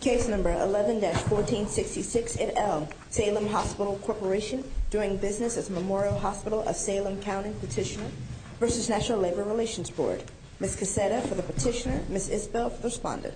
Case No. 11-1466 at Elm, Salem Hospital Corporation Doing business at Memorial Hospital of Salem County Petitioner v. National Labor Relations Board Ms. Cassetta for the petitioner, Ms. Isbell for the respondent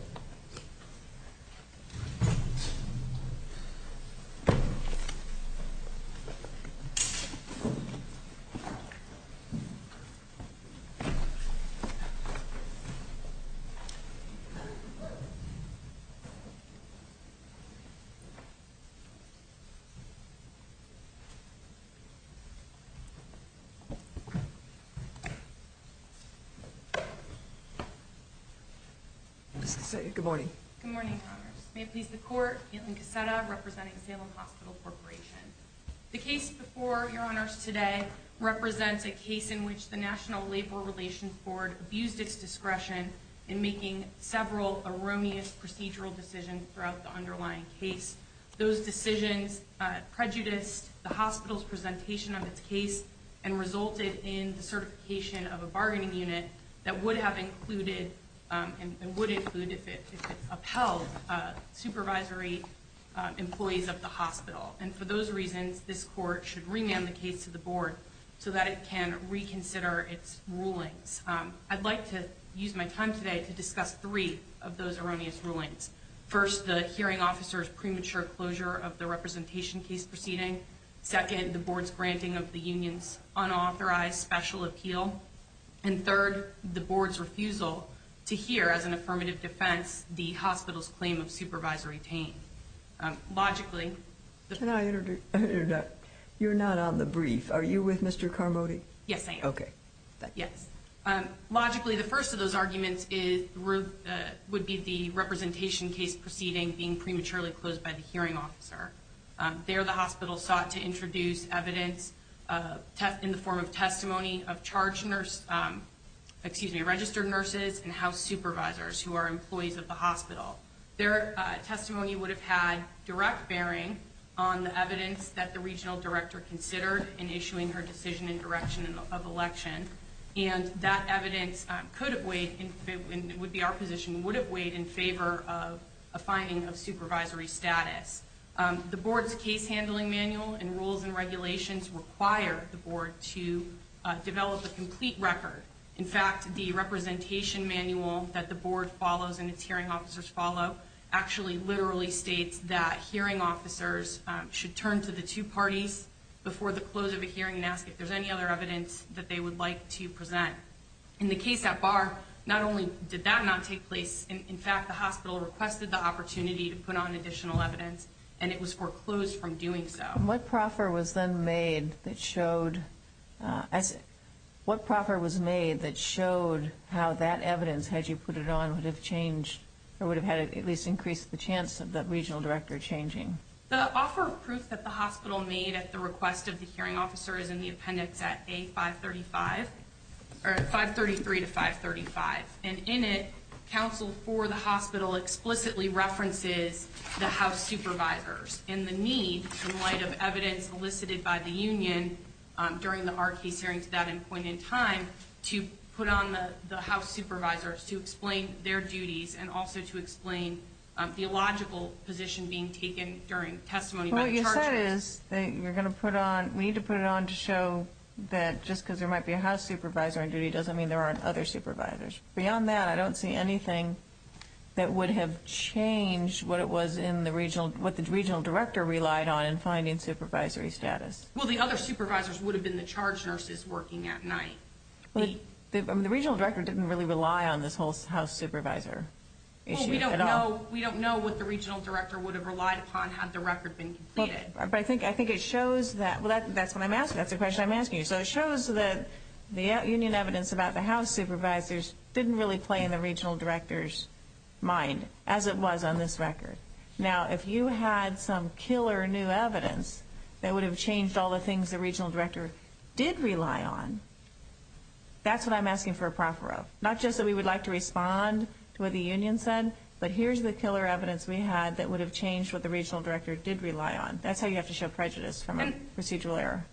Ms. Cassetta, good morning. Good morning, Your Honors. May it please the Court, Kaitlin Cassetta representing Salem Hospital Corporation. The case before Your Honors today represents a case in which the National Labor Relations Board abused its discretion in making several erroneous procedural decisions throughout the underlying case. Those decisions prejudiced the hospital's presentation of its case and resulted in the certification of a bargaining unit that would have included and would include if it upheld supervisory employees of the hospital. And for those reasons, this Court should remand the case to the Board so that it can reconsider its rulings. I'd like to use my time today to discuss three of those erroneous rulings. First, the hearing officer's premature closure of the representation case proceeding. Second, the Board's granting of the union's unauthorized special appeal. And third, the Board's refusal to hear as an affirmative defense the hospital's claim of supervisory pain. Can I interrupt? You're not on the brief. Are you with Mr. Carmody? Yes, I am. Okay. Yes. Logically, the first of those arguments would be the representation case proceeding being prematurely closed by the hearing officer. There, the hospital sought to introduce evidence in the form of testimony of registered nurses and house supervisors who are employees of the hospital. Their testimony would have had direct bearing on the evidence that the regional director considered in issuing her decision in direction of election. And that evidence could have weighed, would be our position, would have weighed in favor of a finding of supervisory status. The Board's case handling manual and rules and regulations require the Board to develop a complete record. In fact, the representation manual that the Board follows and its hearing officers follow actually literally states that hearing officers should turn to the two parties before the close of a hearing and ask if there's any other evidence that they would like to present. In the case at Barr, not only did that not take place, in fact, the hospital requested the opportunity to put on additional evidence, and it was foreclosed from doing so. What proffer was then made that showed, what proffer was made that showed how that evidence, had you put it on, would have changed or would have had at least increased the chance of that regional director changing? The offer of proof that the hospital made at the request of the hearing officer is in the appendix at A535, or 533 to 535. And in it, counsel for the hospital explicitly references the house supervisors in the need, in light of evidence elicited by the union during the R case hearing to that point in time, to put on the house supervisors to explain their duties and also to explain theological position being taken during testimony by the charges. What you said is that you're going to put on, we need to put it on to show that just because there might be a house supervisor on duty doesn't mean there aren't other supervisors. Beyond that, I don't see anything that would have changed what it was in the regional, what the regional director relied on in finding supervisory status. Well, the other supervisors would have been the charge nurses working at night. The regional director didn't really rely on this whole house supervisor issue at all. Well, we don't know, we don't know what the regional director would have relied upon had the record been completed. But I think, I think it shows that, well that's what I'm asking, that's the question I'm asking you. So it shows that the union evidence about the house supervisors didn't really play in the regional director's mind, as it was on this record. Now, if you had some killer new evidence that would have changed all the things the regional director did rely on, that's what I'm asking for a proffer of. Not just that we would like to respond to what the union said, but here's the killer evidence we had that would have changed what the regional director did rely on. That's how you have to show prejudice from a procedural error.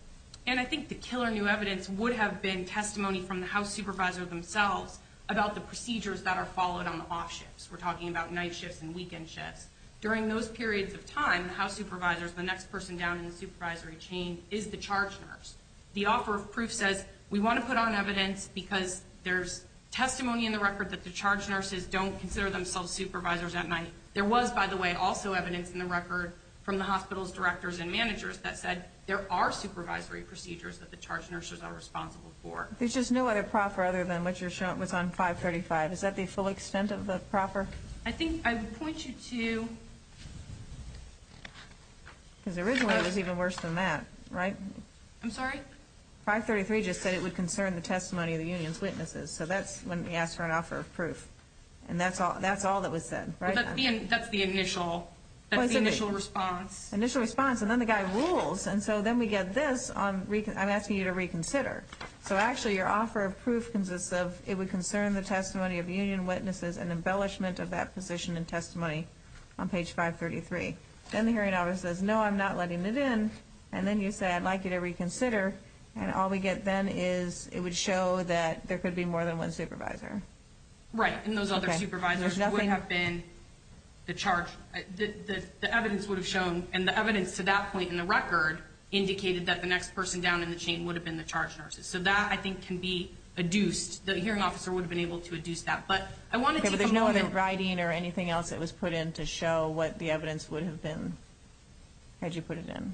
And I think the killer new evidence would have been testimony from the house supervisor themselves about the procedures that are followed on the off shifts. We're talking about night shifts and weekend shifts. During those periods of time, the house supervisors, the next person down in the supervisory chain is the charge nurse. The offer of proof says we want to put on evidence because there's testimony in the record that the charge nurses don't consider themselves supervisors at night. There was, by the way, also evidence in the record from the hospital's directors and managers that said there are supervisory procedures that the charge nurses are responsible for. There's just no other proffer other than what you're showing, what's on 535. Is that the full extent of the proffer? I think I would point you to... Because originally it was even worse than that, right? I'm sorry? 533 just said it would concern the testimony of the union's witnesses. So that's when we asked for an offer of proof. And that's all that was said, right? That's the initial response. Initial response. And then the guy rules. And so then we get this. I'm asking you to reconsider. So actually your offer of proof consists of it would concern the testimony of union witnesses and embellishment of that position and testimony on page 533. Then the hearing officer says, no, I'm not letting it in. And then you say, I'd like you to reconsider. And all we get then is it would show that there could be more than one supervisor. Right. And those other supervisors would have been the charge. The evidence would have shown, and the evidence to that point in the record indicated that the next person down in the chain would have been the charge nurses. So that, I think, can be adduced. The hearing officer would have been able to adduce that. But I want to take a moment. Okay, but there's no other writing or anything else that was put in to show what the evidence would have been had you put it in.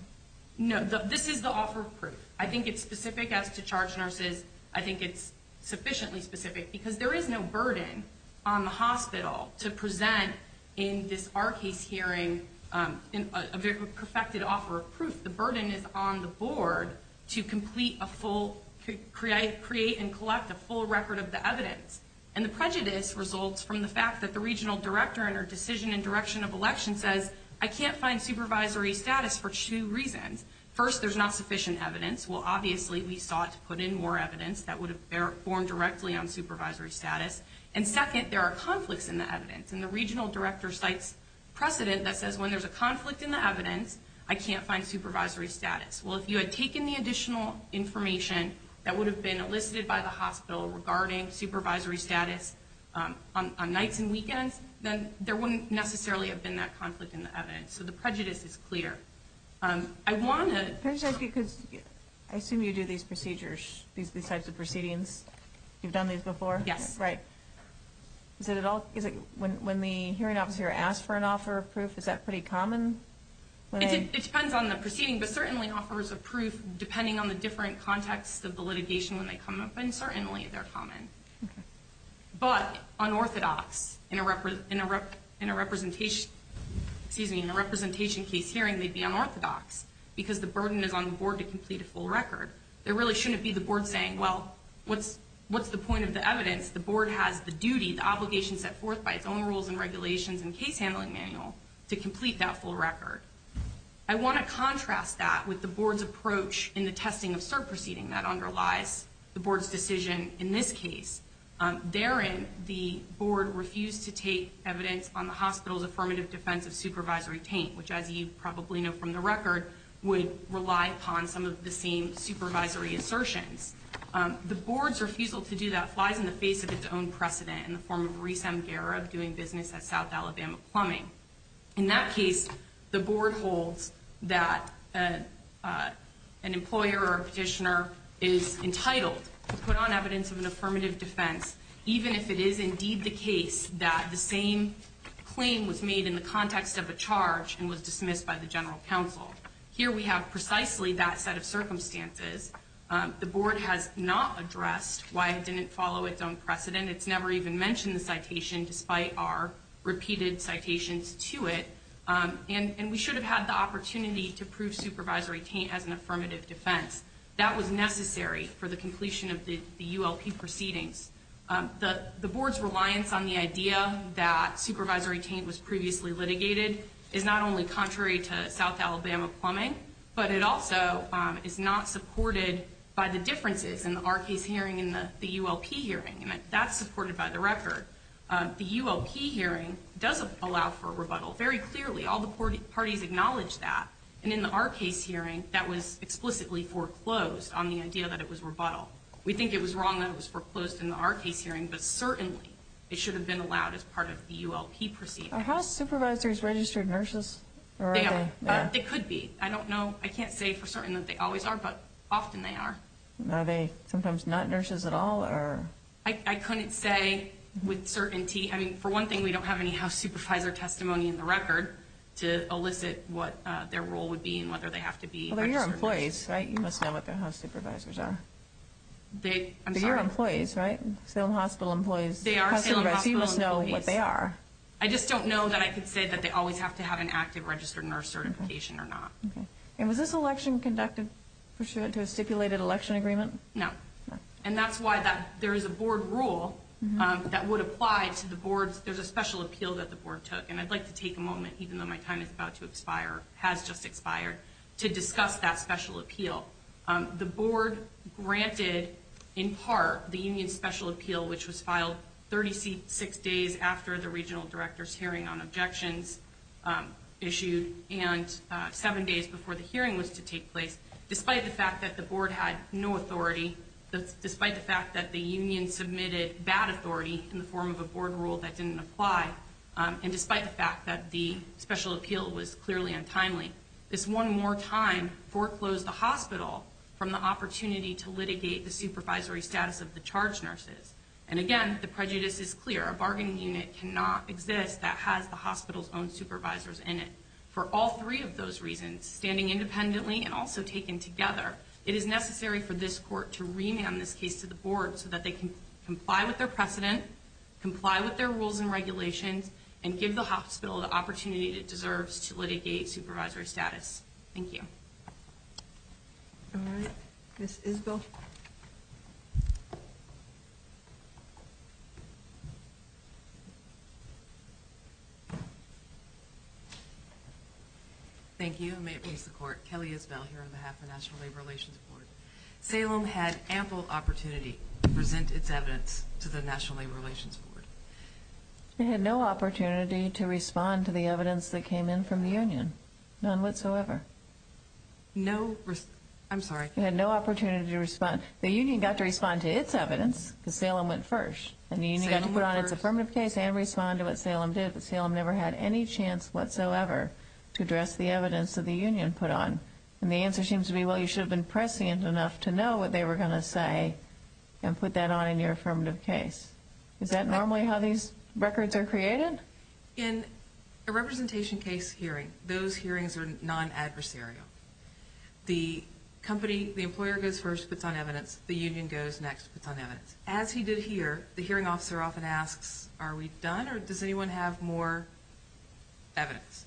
No, this is the offer of proof. I think it's specific as to charge nurses. I think it's sufficiently specific because there is no burden on the hospital to present in this, our case hearing, a very perfected offer of proof. The burden is on the board to complete a full, create and collect a full record of the evidence. And the prejudice results from the fact that the regional director and her decision and direction of election says, I can't find supervisory status for two reasons. First, there's not sufficient evidence. Well, obviously, we sought to put in more evidence that would have formed directly on supervisory status. And second, there are conflicts in the evidence. And the regional director cites precedent that says when there's a conflict in the evidence, I can't find supervisory status. Well, if you had taken the additional information that would have been elicited by the hospital regarding supervisory status on nights and weekends, then there wouldn't necessarily have been that conflict in the evidence. So the prejudice is clear. I want to- Because I assume you do these procedures, these types of proceedings. You've done these before? Yes. Right. Is it when the hearing officer asks for an offer of proof, is that pretty common? It depends on the proceeding, but certainly offers of proof, depending on the different context of the litigation when they come up, and certainly they're common. But unorthodox in a representation case hearing may be unorthodox because the burden is on the board to complete a full record. There really shouldn't be the board saying, well, what's the point of the evidence? The board has the duty, the obligation set forth by its own rules and regulations and case handling manual to complete that full record. I want to contrast that with the board's approach in the testing of cert proceeding that underlies the board's decision in this case. Therein, the board refused to take evidence on the hospital's affirmative defense of supervisory taint, which, as you probably know from the record, would rely upon some of the same supervisory assertions. The board's refusal to do that flies in the face of its own precedent in the form of Reese M. Garib doing business at South Alabama Plumbing. In that case, the board holds that an employer or a petitioner is entitled to put on evidence of an affirmative defense, even if it is indeed the case that the same claim was made in the context of a charge and was dismissed by the general counsel. Here we have precisely that set of circumstances. The board has not addressed why it didn't follow its own precedent. It's never even mentioned the citation, despite our repeated citations to it. And we should have had the opportunity to prove supervisory taint as an affirmative defense. That was necessary for the completion of the ULP proceedings. The board's reliance on the idea that supervisory taint was previously litigated is not only contrary to South Alabama Plumbing, but it also is not supported by the differences in our case hearing and the ULP hearing. And that's supported by the record. The ULP hearing does allow for rebuttal. Very clearly, all the parties acknowledge that. And in our case hearing, that was explicitly foreclosed on the idea that it was rebuttal. We think it was wrong that it was foreclosed in our case hearing, but certainly it should have been allowed as part of the ULP proceedings. Are house supervisors registered nurses? They could be. I don't know. I can't say for certain that they always are, but often they are. Are they sometimes not nurses at all? I couldn't say with certainty. I mean, for one thing, we don't have any house supervisor testimony in the record to elicit what their role would be and whether they have to be registered nurses. Well, they're your employees, right? You must know what their house supervisors are. I'm sorry? They're your employees, right? Salem Hospital employees. They are Salem Hospital employees. So you must know what they are. I just don't know that I could say that they always have to have an active registered nurse certification or not. And was this election conducted pursuant to a stipulated election agreement? No. And that's why there is a board rule that would apply to the boards. There's a special appeal that the board took, and I'd like to take a moment, even though my time is about to expire, has just expired, to discuss that special appeal. The board granted, in part, the union's special appeal, which was filed 36 days after the regional director's hearing on objections issued and seven days before the hearing was to take place, despite the fact that the board had no authority, despite the fact that the union submitted bad authority in the form of a board rule that didn't apply, and despite the fact that the special appeal was clearly untimely. This one more time foreclosed the hospital from the opportunity to litigate the supervisory status of the charged nurses. And, again, the prejudice is clear. A bargaining unit cannot exist that has the hospital's own supervisors in it. For all three of those reasons, standing independently and also taken together, it is necessary for this court to remand this case to the board so that they can comply with their precedent, comply with their rules and regulations, and give the hospital the opportunity it deserves to litigate supervisory status. Thank you. All right. Ms. Isbell. Thank you, and may it please the court, Kelly Isbell here on behalf of the National Labor Relations Board. Salem had ample opportunity to present its evidence to the National Labor Relations Board. It had no opportunity to respond to the evidence that came in from the union, none whatsoever. No, I'm sorry. It had no opportunity to respond. The union got to respond to its evidence because Salem went first. And the union got to put on its affirmative case and respond to what Salem did, but Salem never had any chance whatsoever to address the evidence that the union put on. And the answer seems to be, well, you should have been prescient enough to know what they were going to say and put that on in your affirmative case. Is that normally how these records are created? In a representation case hearing, those hearings are non-adversarial. The company, the employer goes first, puts on evidence. The union goes next, puts on evidence. As he did here, the hearing officer often asks, are we done, or does anyone have more evidence?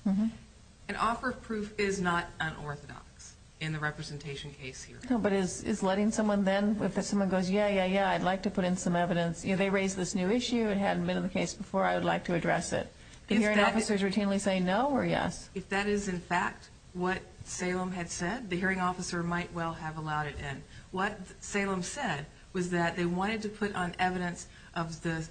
An offer of proof is not unorthodox in the representation case hearing. No, but is letting someone then, if someone goes, yeah, yeah, yeah, I'd like to put in some evidence, you know, they raised this new issue, it hadn't been in the case before, I would like to address it. Do hearing officers routinely say no or yes? If that is, in fact, what Salem had said, the hearing officer might well have allowed it in. What Salem said was that they wanted to put on evidence of the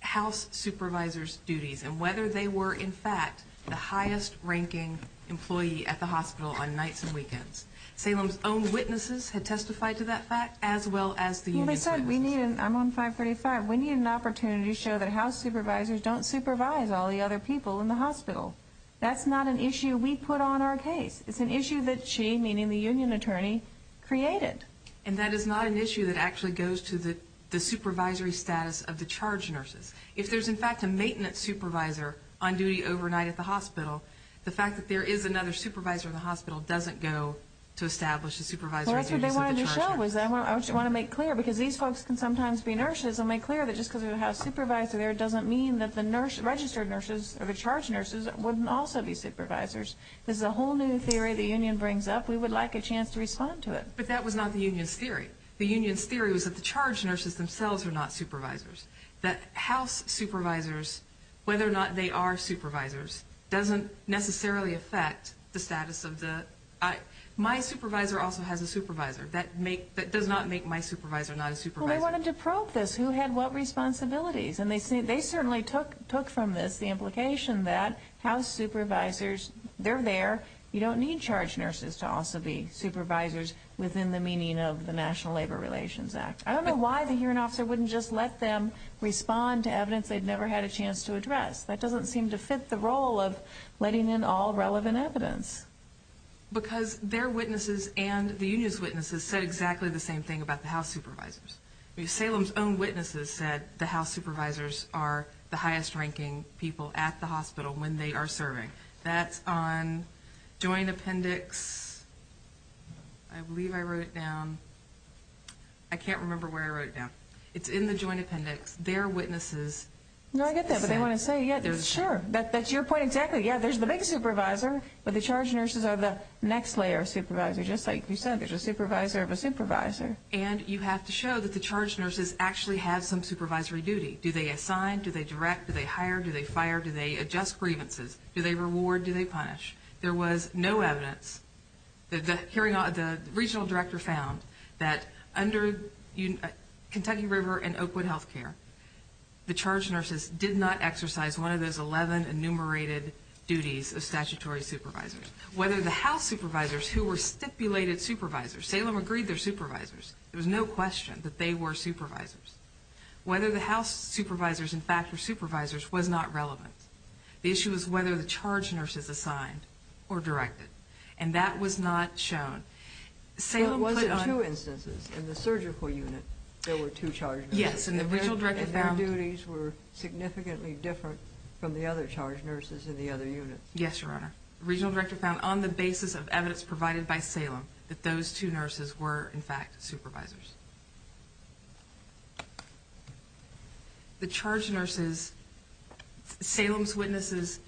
house supervisor's duties and whether they were, in fact, the highest-ranking employee at the hospital on nights and weekends. Salem's own witnesses had testified to that fact, as well as the union's witnesses. Well, they said, I'm on 535, we need an opportunity to show that house supervisors don't supervise all the other people in the hospital. That's not an issue we put on our case. It's an issue that she, meaning the union attorney, created. And that is not an issue that actually goes to the supervisory status of the charge nurses. If there's, in fact, a maintenance supervisor on duty overnight at the hospital, the fact that there is another supervisor at the hospital doesn't go to establish the supervisory duties of the charge nurses. Well, that's what they wanted to show, was I want to make clear, because these folks can sometimes be nurses, and make clear that just because we have a supervisor there doesn't mean that the registered nurses or the charge nurses wouldn't also be supervisors. This is a whole new theory the union brings up. We would like a chance to respond to it. But that was not the union's theory. The union's theory was that the charge nurses themselves are not supervisors, that house supervisors, whether or not they are supervisors, doesn't necessarily affect the status of the – my supervisor also has a supervisor. That does not make my supervisor not a supervisor. Well, they wanted to probe this. Who had what responsibilities? And they certainly took from this the implication that house supervisors, they're there. You don't need charge nurses to also be supervisors within the meaning of the National Labor Relations Act. I don't know why the hearing officer wouldn't just let them respond to evidence they'd never had a chance to address. That doesn't seem to fit the role of letting in all relevant evidence. Because their witnesses and the union's witnesses said exactly the same thing about the house supervisors. Salem's own witnesses said the house supervisors are the highest-ranking people at the hospital when they are serving. That's on Joint Appendix – I believe I wrote it down. I can't remember where I wrote it down. It's in the Joint Appendix. Their witnesses said – No, I get that, but they want to say, yeah, sure, that's your point exactly. Yeah, there's the big supervisor, but the charge nurses are the next layer of supervisor, just like you said. There's a supervisor of a supervisor. And you have to show that the charge nurses actually have some supervisory duty. Do they assign? Do they direct? Do they hire? Do they fire? Do they adjust grievances? Do they reward? Do they punish? There was no evidence – the regional director found that under Kentucky River and Oakwood Health Care, the charge nurses did not exercise one of those 11 enumerated duties of statutory supervisors. Whether the house supervisors who were stipulated supervisors – Salem agreed they're supervisors. There was no question that they were supervisors. Whether the house supervisors, in fact, were supervisors was not relevant. The issue was whether the charge nurses assigned or directed, and that was not shown. Salem put on – But was it two instances? In the surgical unit, there were two charge nurses. Yes, and the regional director found – And their duties were significantly different from the other charge nurses in the other units. Yes, Your Honor. The regional director found, on the basis of evidence provided by Salem, that those two nurses were, in fact, supervisors. The charge nurses – Salem's witnesses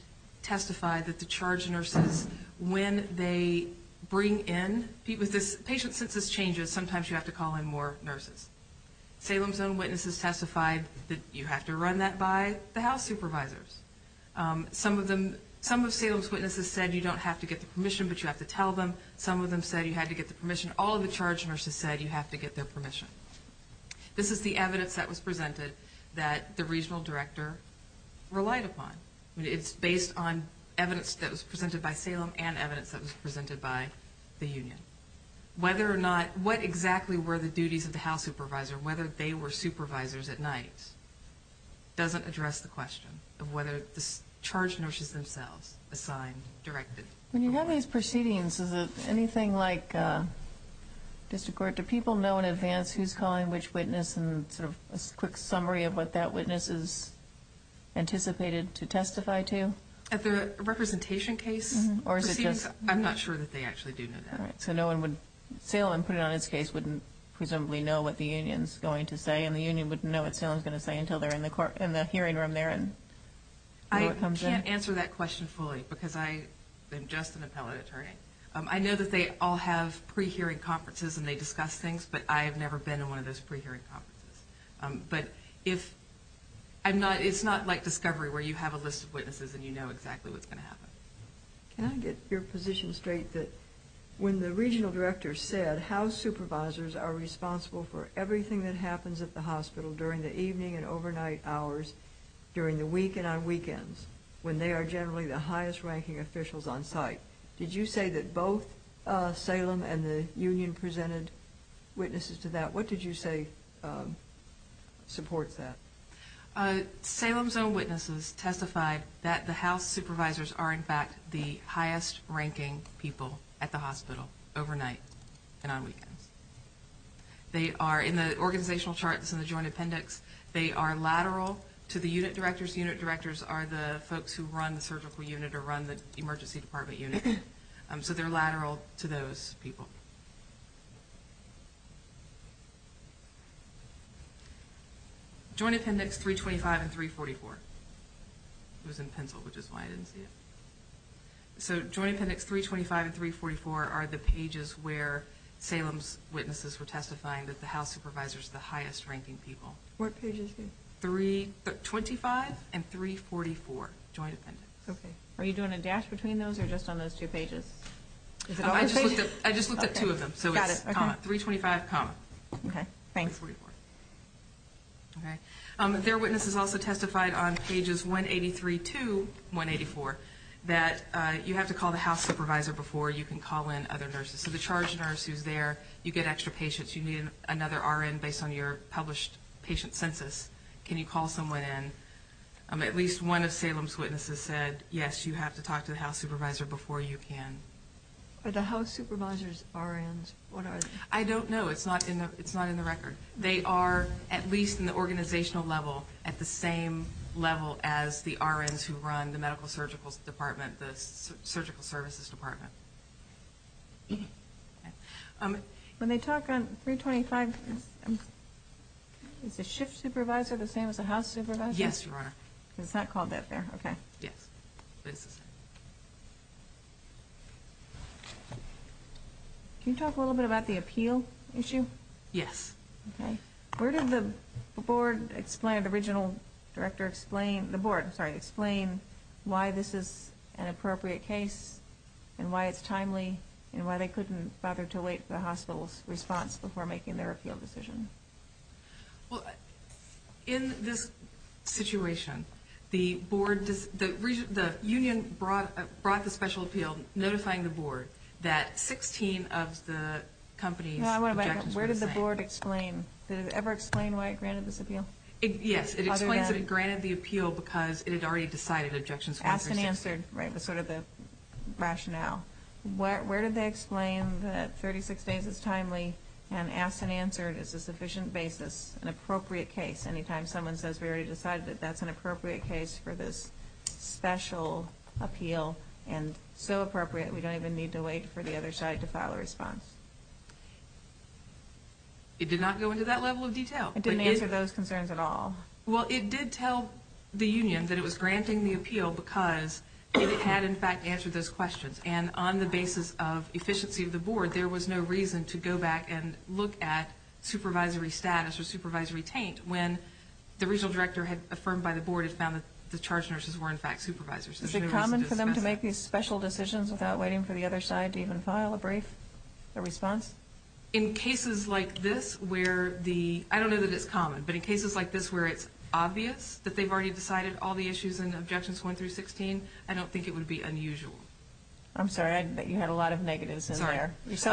testified that the charge nurses, when they bring in – Patients, since this changes, sometimes you have to call in more nurses. Salem's own witnesses testified that you have to run that by the house supervisors. Some of Salem's witnesses said you don't have to get the permission, but you have to tell them. Some of them said you had to get the permission. All of the charge nurses said you have to get their permission. This is the evidence that was presented that the regional director relied upon. It's based on evidence that was presented by Salem and evidence that was presented by the union. Whether or not – What exactly were the duties of the house supervisor, whether they were supervisors at night, doesn't address the question of whether the charge nurses themselves assigned, directed. When you have these proceedings, is it anything like – does the court – do people know in advance who's calling which witness and sort of a quick summary of what that witness is anticipated to testify to? At the representation case proceedings, I'm not sure that they actually do know that. All right. So no one would – Salem, put it on its case, wouldn't presumably know what the union's going to say, and the union wouldn't know what Salem's going to say until they're in the hearing room there. I can't answer that question fully because I am just an appellate attorney. I know that they all have pre-hearing conferences and they discuss things, but I have never been in one of those pre-hearing conferences. But if – it's not like discovery where you have a list of witnesses and you know exactly what's going to happen. Can I get your position straight that when the regional director said that house supervisors are responsible for everything that happens at the hospital during the evening and overnight hours, during the week and on weekends, when they are generally the highest-ranking officials on site, did you say that both Salem and the union presented witnesses to that? What did you say supports that? They are the highest-ranking people at the hospital overnight and on weekends. In the organizational charts in the joint appendix, they are lateral to the unit directors. Unit directors are the folks who run the surgical unit or run the emergency department unit. So they're lateral to those people. Joint appendix 325 and 344. It was in pencil, which is why I didn't see it. So joint appendix 325 and 344 are the pages where Salem's witnesses were testifying that the house supervisor is the highest-ranking people. What pages? 325 and 344, joint appendix. Are you doing a dash between those or just on those two pages? I just looked at two of them, so it's 325, 344. Their witnesses also testified on pages 183 to 184 that you have to call the house supervisor before you can call in other nurses. So the charge nurse who's there, you get extra patients, you need another RN based on your published patient census. Can you call someone in? At least one of Salem's witnesses said, yes, you have to talk to the house supervisor before you can. Are the house supervisors RNs? I don't know. It's not in the record. They are, at least in the organizational level, at the same level as the RNs who run the medical surgical department, the surgical services department. When they talk on 325, is the shift supervisor the same as the house supervisor? Yes, Your Honor. It's not called that there, okay. Yes. Can you talk a little bit about the appeal issue? Yes. Okay. Where did the board explain, the original director explain, the board, sorry, explain why this is an appropriate case and why it's timely and why they couldn't bother to wait for the hospital's response before making their appeal decision? Well, in this situation, the board, the union brought the special appeal, notifying the board that 16 of the company's objectives were the same. Where did the board explain? Did it ever explain why it granted this appeal? Yes. It explains that it granted the appeal because it had already decided Objections 136. Asked and answered, right, was sort of the rationale. Where did they explain that 36 days is timely and asked and answered is a sufficient basis, an appropriate case, anytime someone says we already decided that that's an appropriate case for this special appeal and so appropriate we don't even need to wait for the other side to file a response? It did not go into that level of detail. It didn't answer those concerns at all. Well, it did tell the union that it was granting the appeal because it had, in fact, answered those questions. And on the basis of efficiency of the board, there was no reason to go back and look at supervisory status or supervisory taint when the original director had affirmed by the board and found that the charge nurses were, in fact, supervisors. Is it common for them to make these special decisions without waiting for the other side to even file a brief, a response? In cases like this where the, I don't know that it's common, but in cases like this where it's obvious that they've already decided all the issues and objections 1 through 16, I don't think it would be unusual. I'm sorry, I bet you had a lot of negatives in there. It's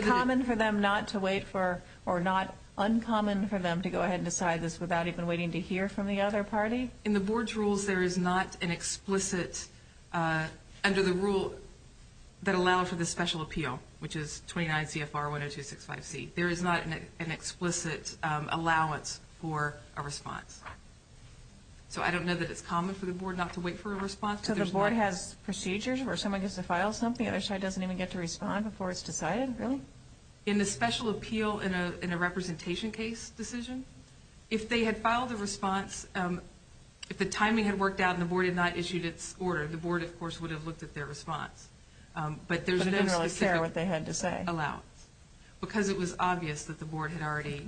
common for them not to wait for, or not uncommon for them to go ahead and decide this without even waiting to hear from the other party? In the board's rules, there is not an explicit, under the rule that allow for the special appeal, which is 29 CFR 10265C. There is not an explicit allowance for a response. So I don't know that it's common for the board not to wait for a response. So the board has procedures where someone gets to file something, the other side doesn't even get to respond before it's decided, really? In the special appeal in a representation case decision, if they had filed a response, if the timing had worked out and the board had not issued its order, the board, of course, would have looked at their response. But there's no specific allowance. Because it was obvious that the board had already...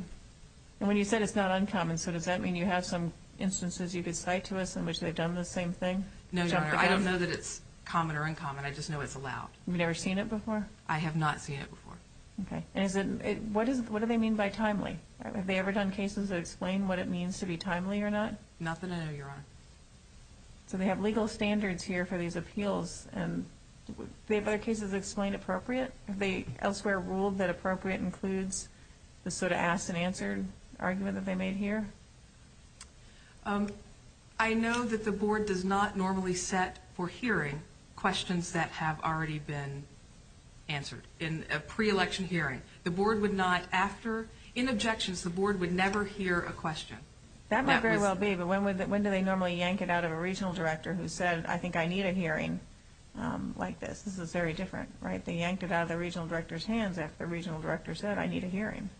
And when you said it's not uncommon, so does that mean you have some instances you could cite to us in which they've done the same thing? No, Your Honor, I don't know that it's common or uncommon, I just know it's allowed. You've never seen it before? I have not seen it before. Okay, and what do they mean by timely? Have they ever done cases that explain what it means to be timely or not? Not that I know, Your Honor. So they have legal standards here for these appeals, and have their cases explained appropriate? Have they elsewhere ruled that appropriate includes the sort of ask and answer argument that they made here? I know that the board does not normally set for hearing questions that have already been answered in a pre-election hearing. The board would not, after, in objections, the board would never hear a question. That might very well be, but when do they normally yank it out of a regional director who said, I think I need a hearing like this? This is very different, right? They yanked it out of the regional director's hands after the regional director said, I need a hearing.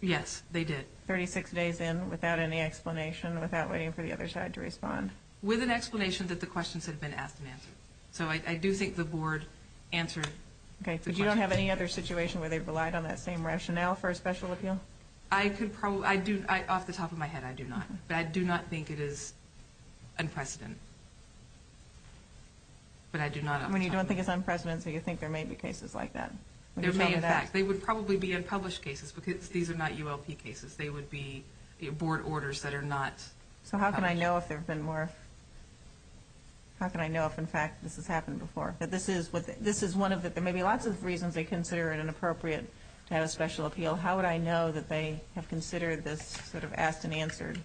Yes, they did. 36 days in without any explanation, without waiting for the other side to respond. With an explanation that the questions had been asked and answered. So I do think the board answered the question. Okay, but you don't have any other situation where they relied on that same rationale for a special appeal? Off the top of my head, I do not. But I do not think it is unprecedented. But I do not off the top of my head. When you don't think it's unprecedented, you think there may be cases like that. There may, in fact. They would probably be unpublished cases, because these are not ULP cases. They would be board orders that are not published. So how can I know if there have been more, how can I know if, in fact, this has happened before? This is one of the, there may be lots of reasons they consider it inappropriate to have a special appeal. How would I know that they have considered this sort of asked and answered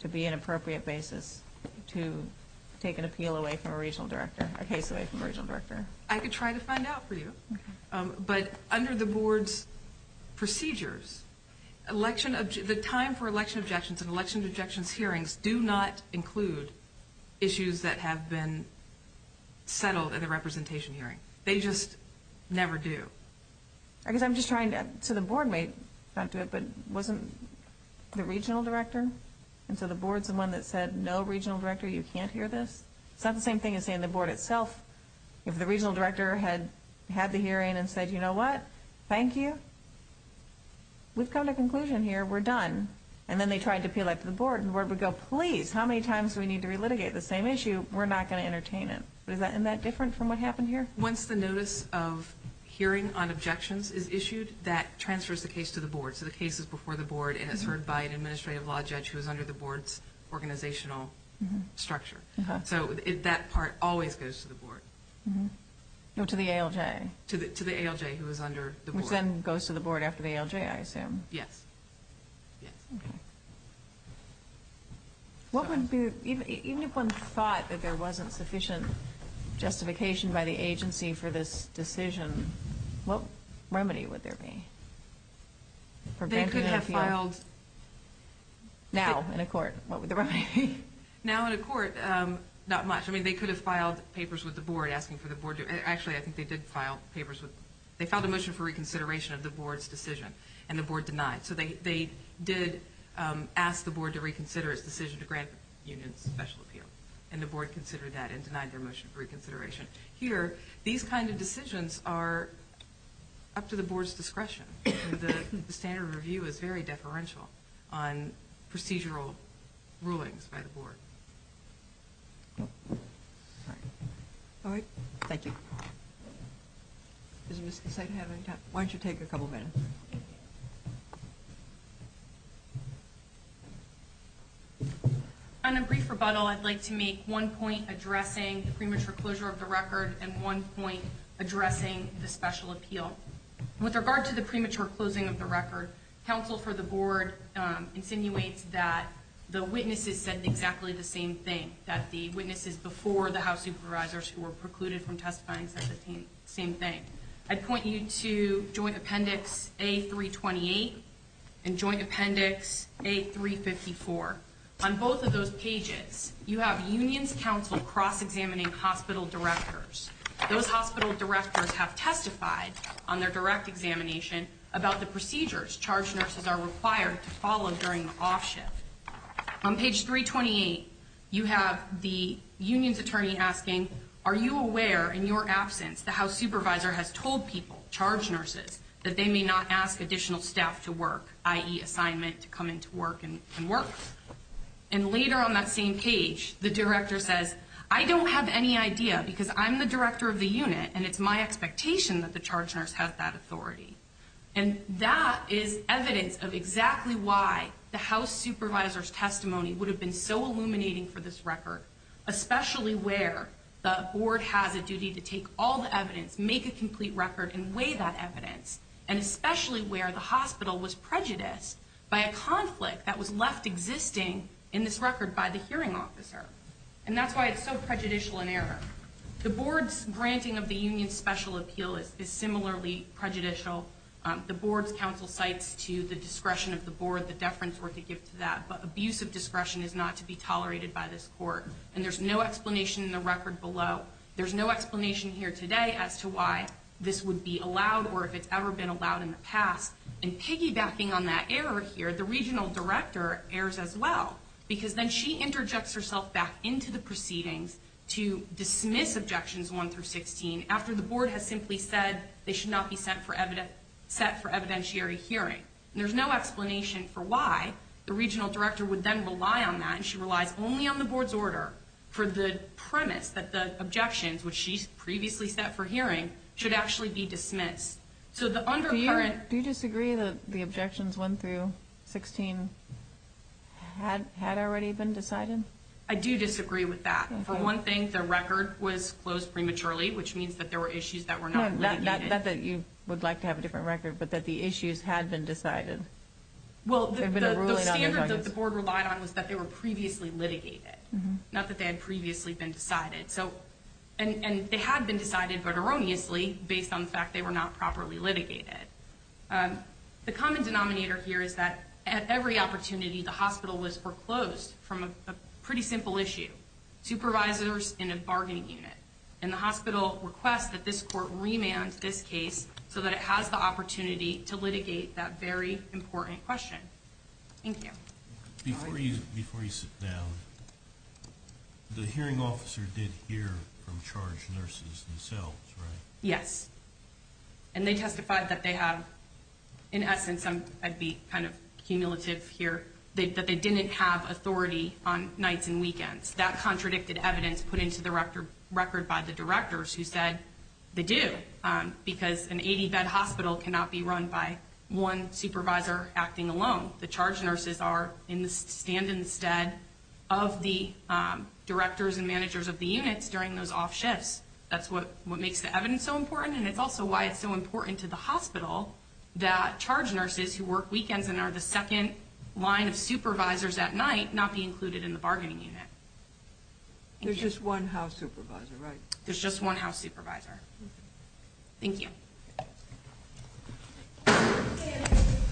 to be an appropriate basis to take an appeal away from a regional director, a case away from a regional director? I could try to find out for you. But under the board's procedures, the time for election objections and election objections hearings do not include issues that have been settled at a representation hearing. They just never do. I guess I'm just trying to, so the board may not do it, but wasn't the regional director? And so the board's the one that said, no, regional director, you can't hear this? It's not the same thing as saying the board itself. If the regional director had had the hearing and said, you know what? Thank you. We've come to a conclusion here. We're done. And then they tried to appeal that to the board, and the board would go, please, how many times do we need to relitigate the same issue? We're not going to entertain it. Isn't that different from what happened here? Once the notice of hearing on objections is issued, that transfers the case to the board. So the case is before the board and is heard by an administrative law judge who is under the board's organizational structure. So that part always goes to the board. No, to the ALJ. To the ALJ who is under the board. Which then goes to the board after the ALJ, I assume. Yes. Okay. Even if one thought that there wasn't sufficient justification by the agency for this decision, what remedy would there be? They could have filed. Now in a court, what would the remedy be? Now in a court, not much. I mean, they could have filed papers with the board asking for the board to do it. Actually, I think they did file papers with the board. They filed a motion for reconsideration of the board's decision, and the board denied. So they did ask the board to reconsider its decision to grant the union special appeal, and the board considered that and denied their motion for reconsideration. Here, these kind of decisions are up to the board's discretion. The standard of review is very deferential on procedural rulings by the board. All right. Thank you. Does Mr. Saito have any time? Why don't you take a couple minutes? On a brief rebuttal, I'd like to make one point addressing the premature closure of the record and one point addressing the special appeal. With regard to the premature closing of the record, counsel for the board insinuates that the witnesses said exactly the same thing, that the witnesses before the House supervisors who were precluded from testifying said the same thing. I'd point you to Joint Appendix A-328 and Joint Appendix A-354. On both of those pages, you have unions counsel cross-examining hospital directors. Those hospital directors have testified on their direct examination about the procedures charge nurses are required to follow during the off shift. On page 328, you have the unions attorney asking, are you aware in your absence the House supervisor has told people, charge nurses, that they may not ask additional staff to work, i.e., assignment to come into work and work? And later on that same page, the director says, I don't have any idea because I'm the director of the unit and it's my expectation that the charge nurse has that authority. And that is evidence of exactly why the House supervisor's testimony would have been so illuminating for this record, especially where the board has a duty to take all the evidence, make a complete record and weigh that evidence, and especially where the hospital was prejudiced by a conflict that was left existing in this record by the hearing officer. And that's why it's so prejudicial in error. The board's granting of the union's special appeal is similarly prejudicial. The board's counsel cites to the discretion of the board the deference worth to give to that. But abusive discretion is not to be tolerated by this court. And there's no explanation in the record below. There's no explanation here today as to why this would be allowed or if it's ever been allowed in the past. And piggybacking on that error here, the regional director errs as well because then she interjects herself back into the proceedings to dismiss Objections 1 through 16 after the board has simply said they should not be set for evidentiary hearing. And there's no explanation for why the regional director would then rely on that and she relies only on the board's order for the premise that the objections, which she's previously set for hearing, should actually be dismissed. Do you disagree that the objections 1 through 16 had already been decided? I do disagree with that. For one thing, the record was closed prematurely, which means that there were issues that were not litigated. Not that you would like to have a different record, but that the issues had been decided. Well, the standard that the board relied on was that they were previously litigated, not that they had previously been decided. And they had been decided, but erroneously, based on the fact they were not properly litigated. The common denominator here is that at every opportunity, the hospital was foreclosed from a pretty simple issue, supervisors in a bargaining unit. And the hospital requests that this court remand this case so that it has the opportunity to litigate that very important question. Thank you. Before you sit down, the hearing officer did hear from charge nurses themselves, right? Yes. And they testified that they have, in essence, I'd be kind of cumulative here, that they didn't have authority on nights and weekends. That contradicted evidence put into the record by the directors who said they do, because an 80-bed hospital cannot be run by one supervisor acting alone. The charge nurses are in the stand instead of the directors and managers of the units during those off shifts. That's what makes the evidence so important, and it's also why it's so important to the hospital that charge nurses who work weekends and are the second line of supervisors at night not be included in the bargaining unit. There's just one house supervisor, right? There's just one house supervisor. Thank you.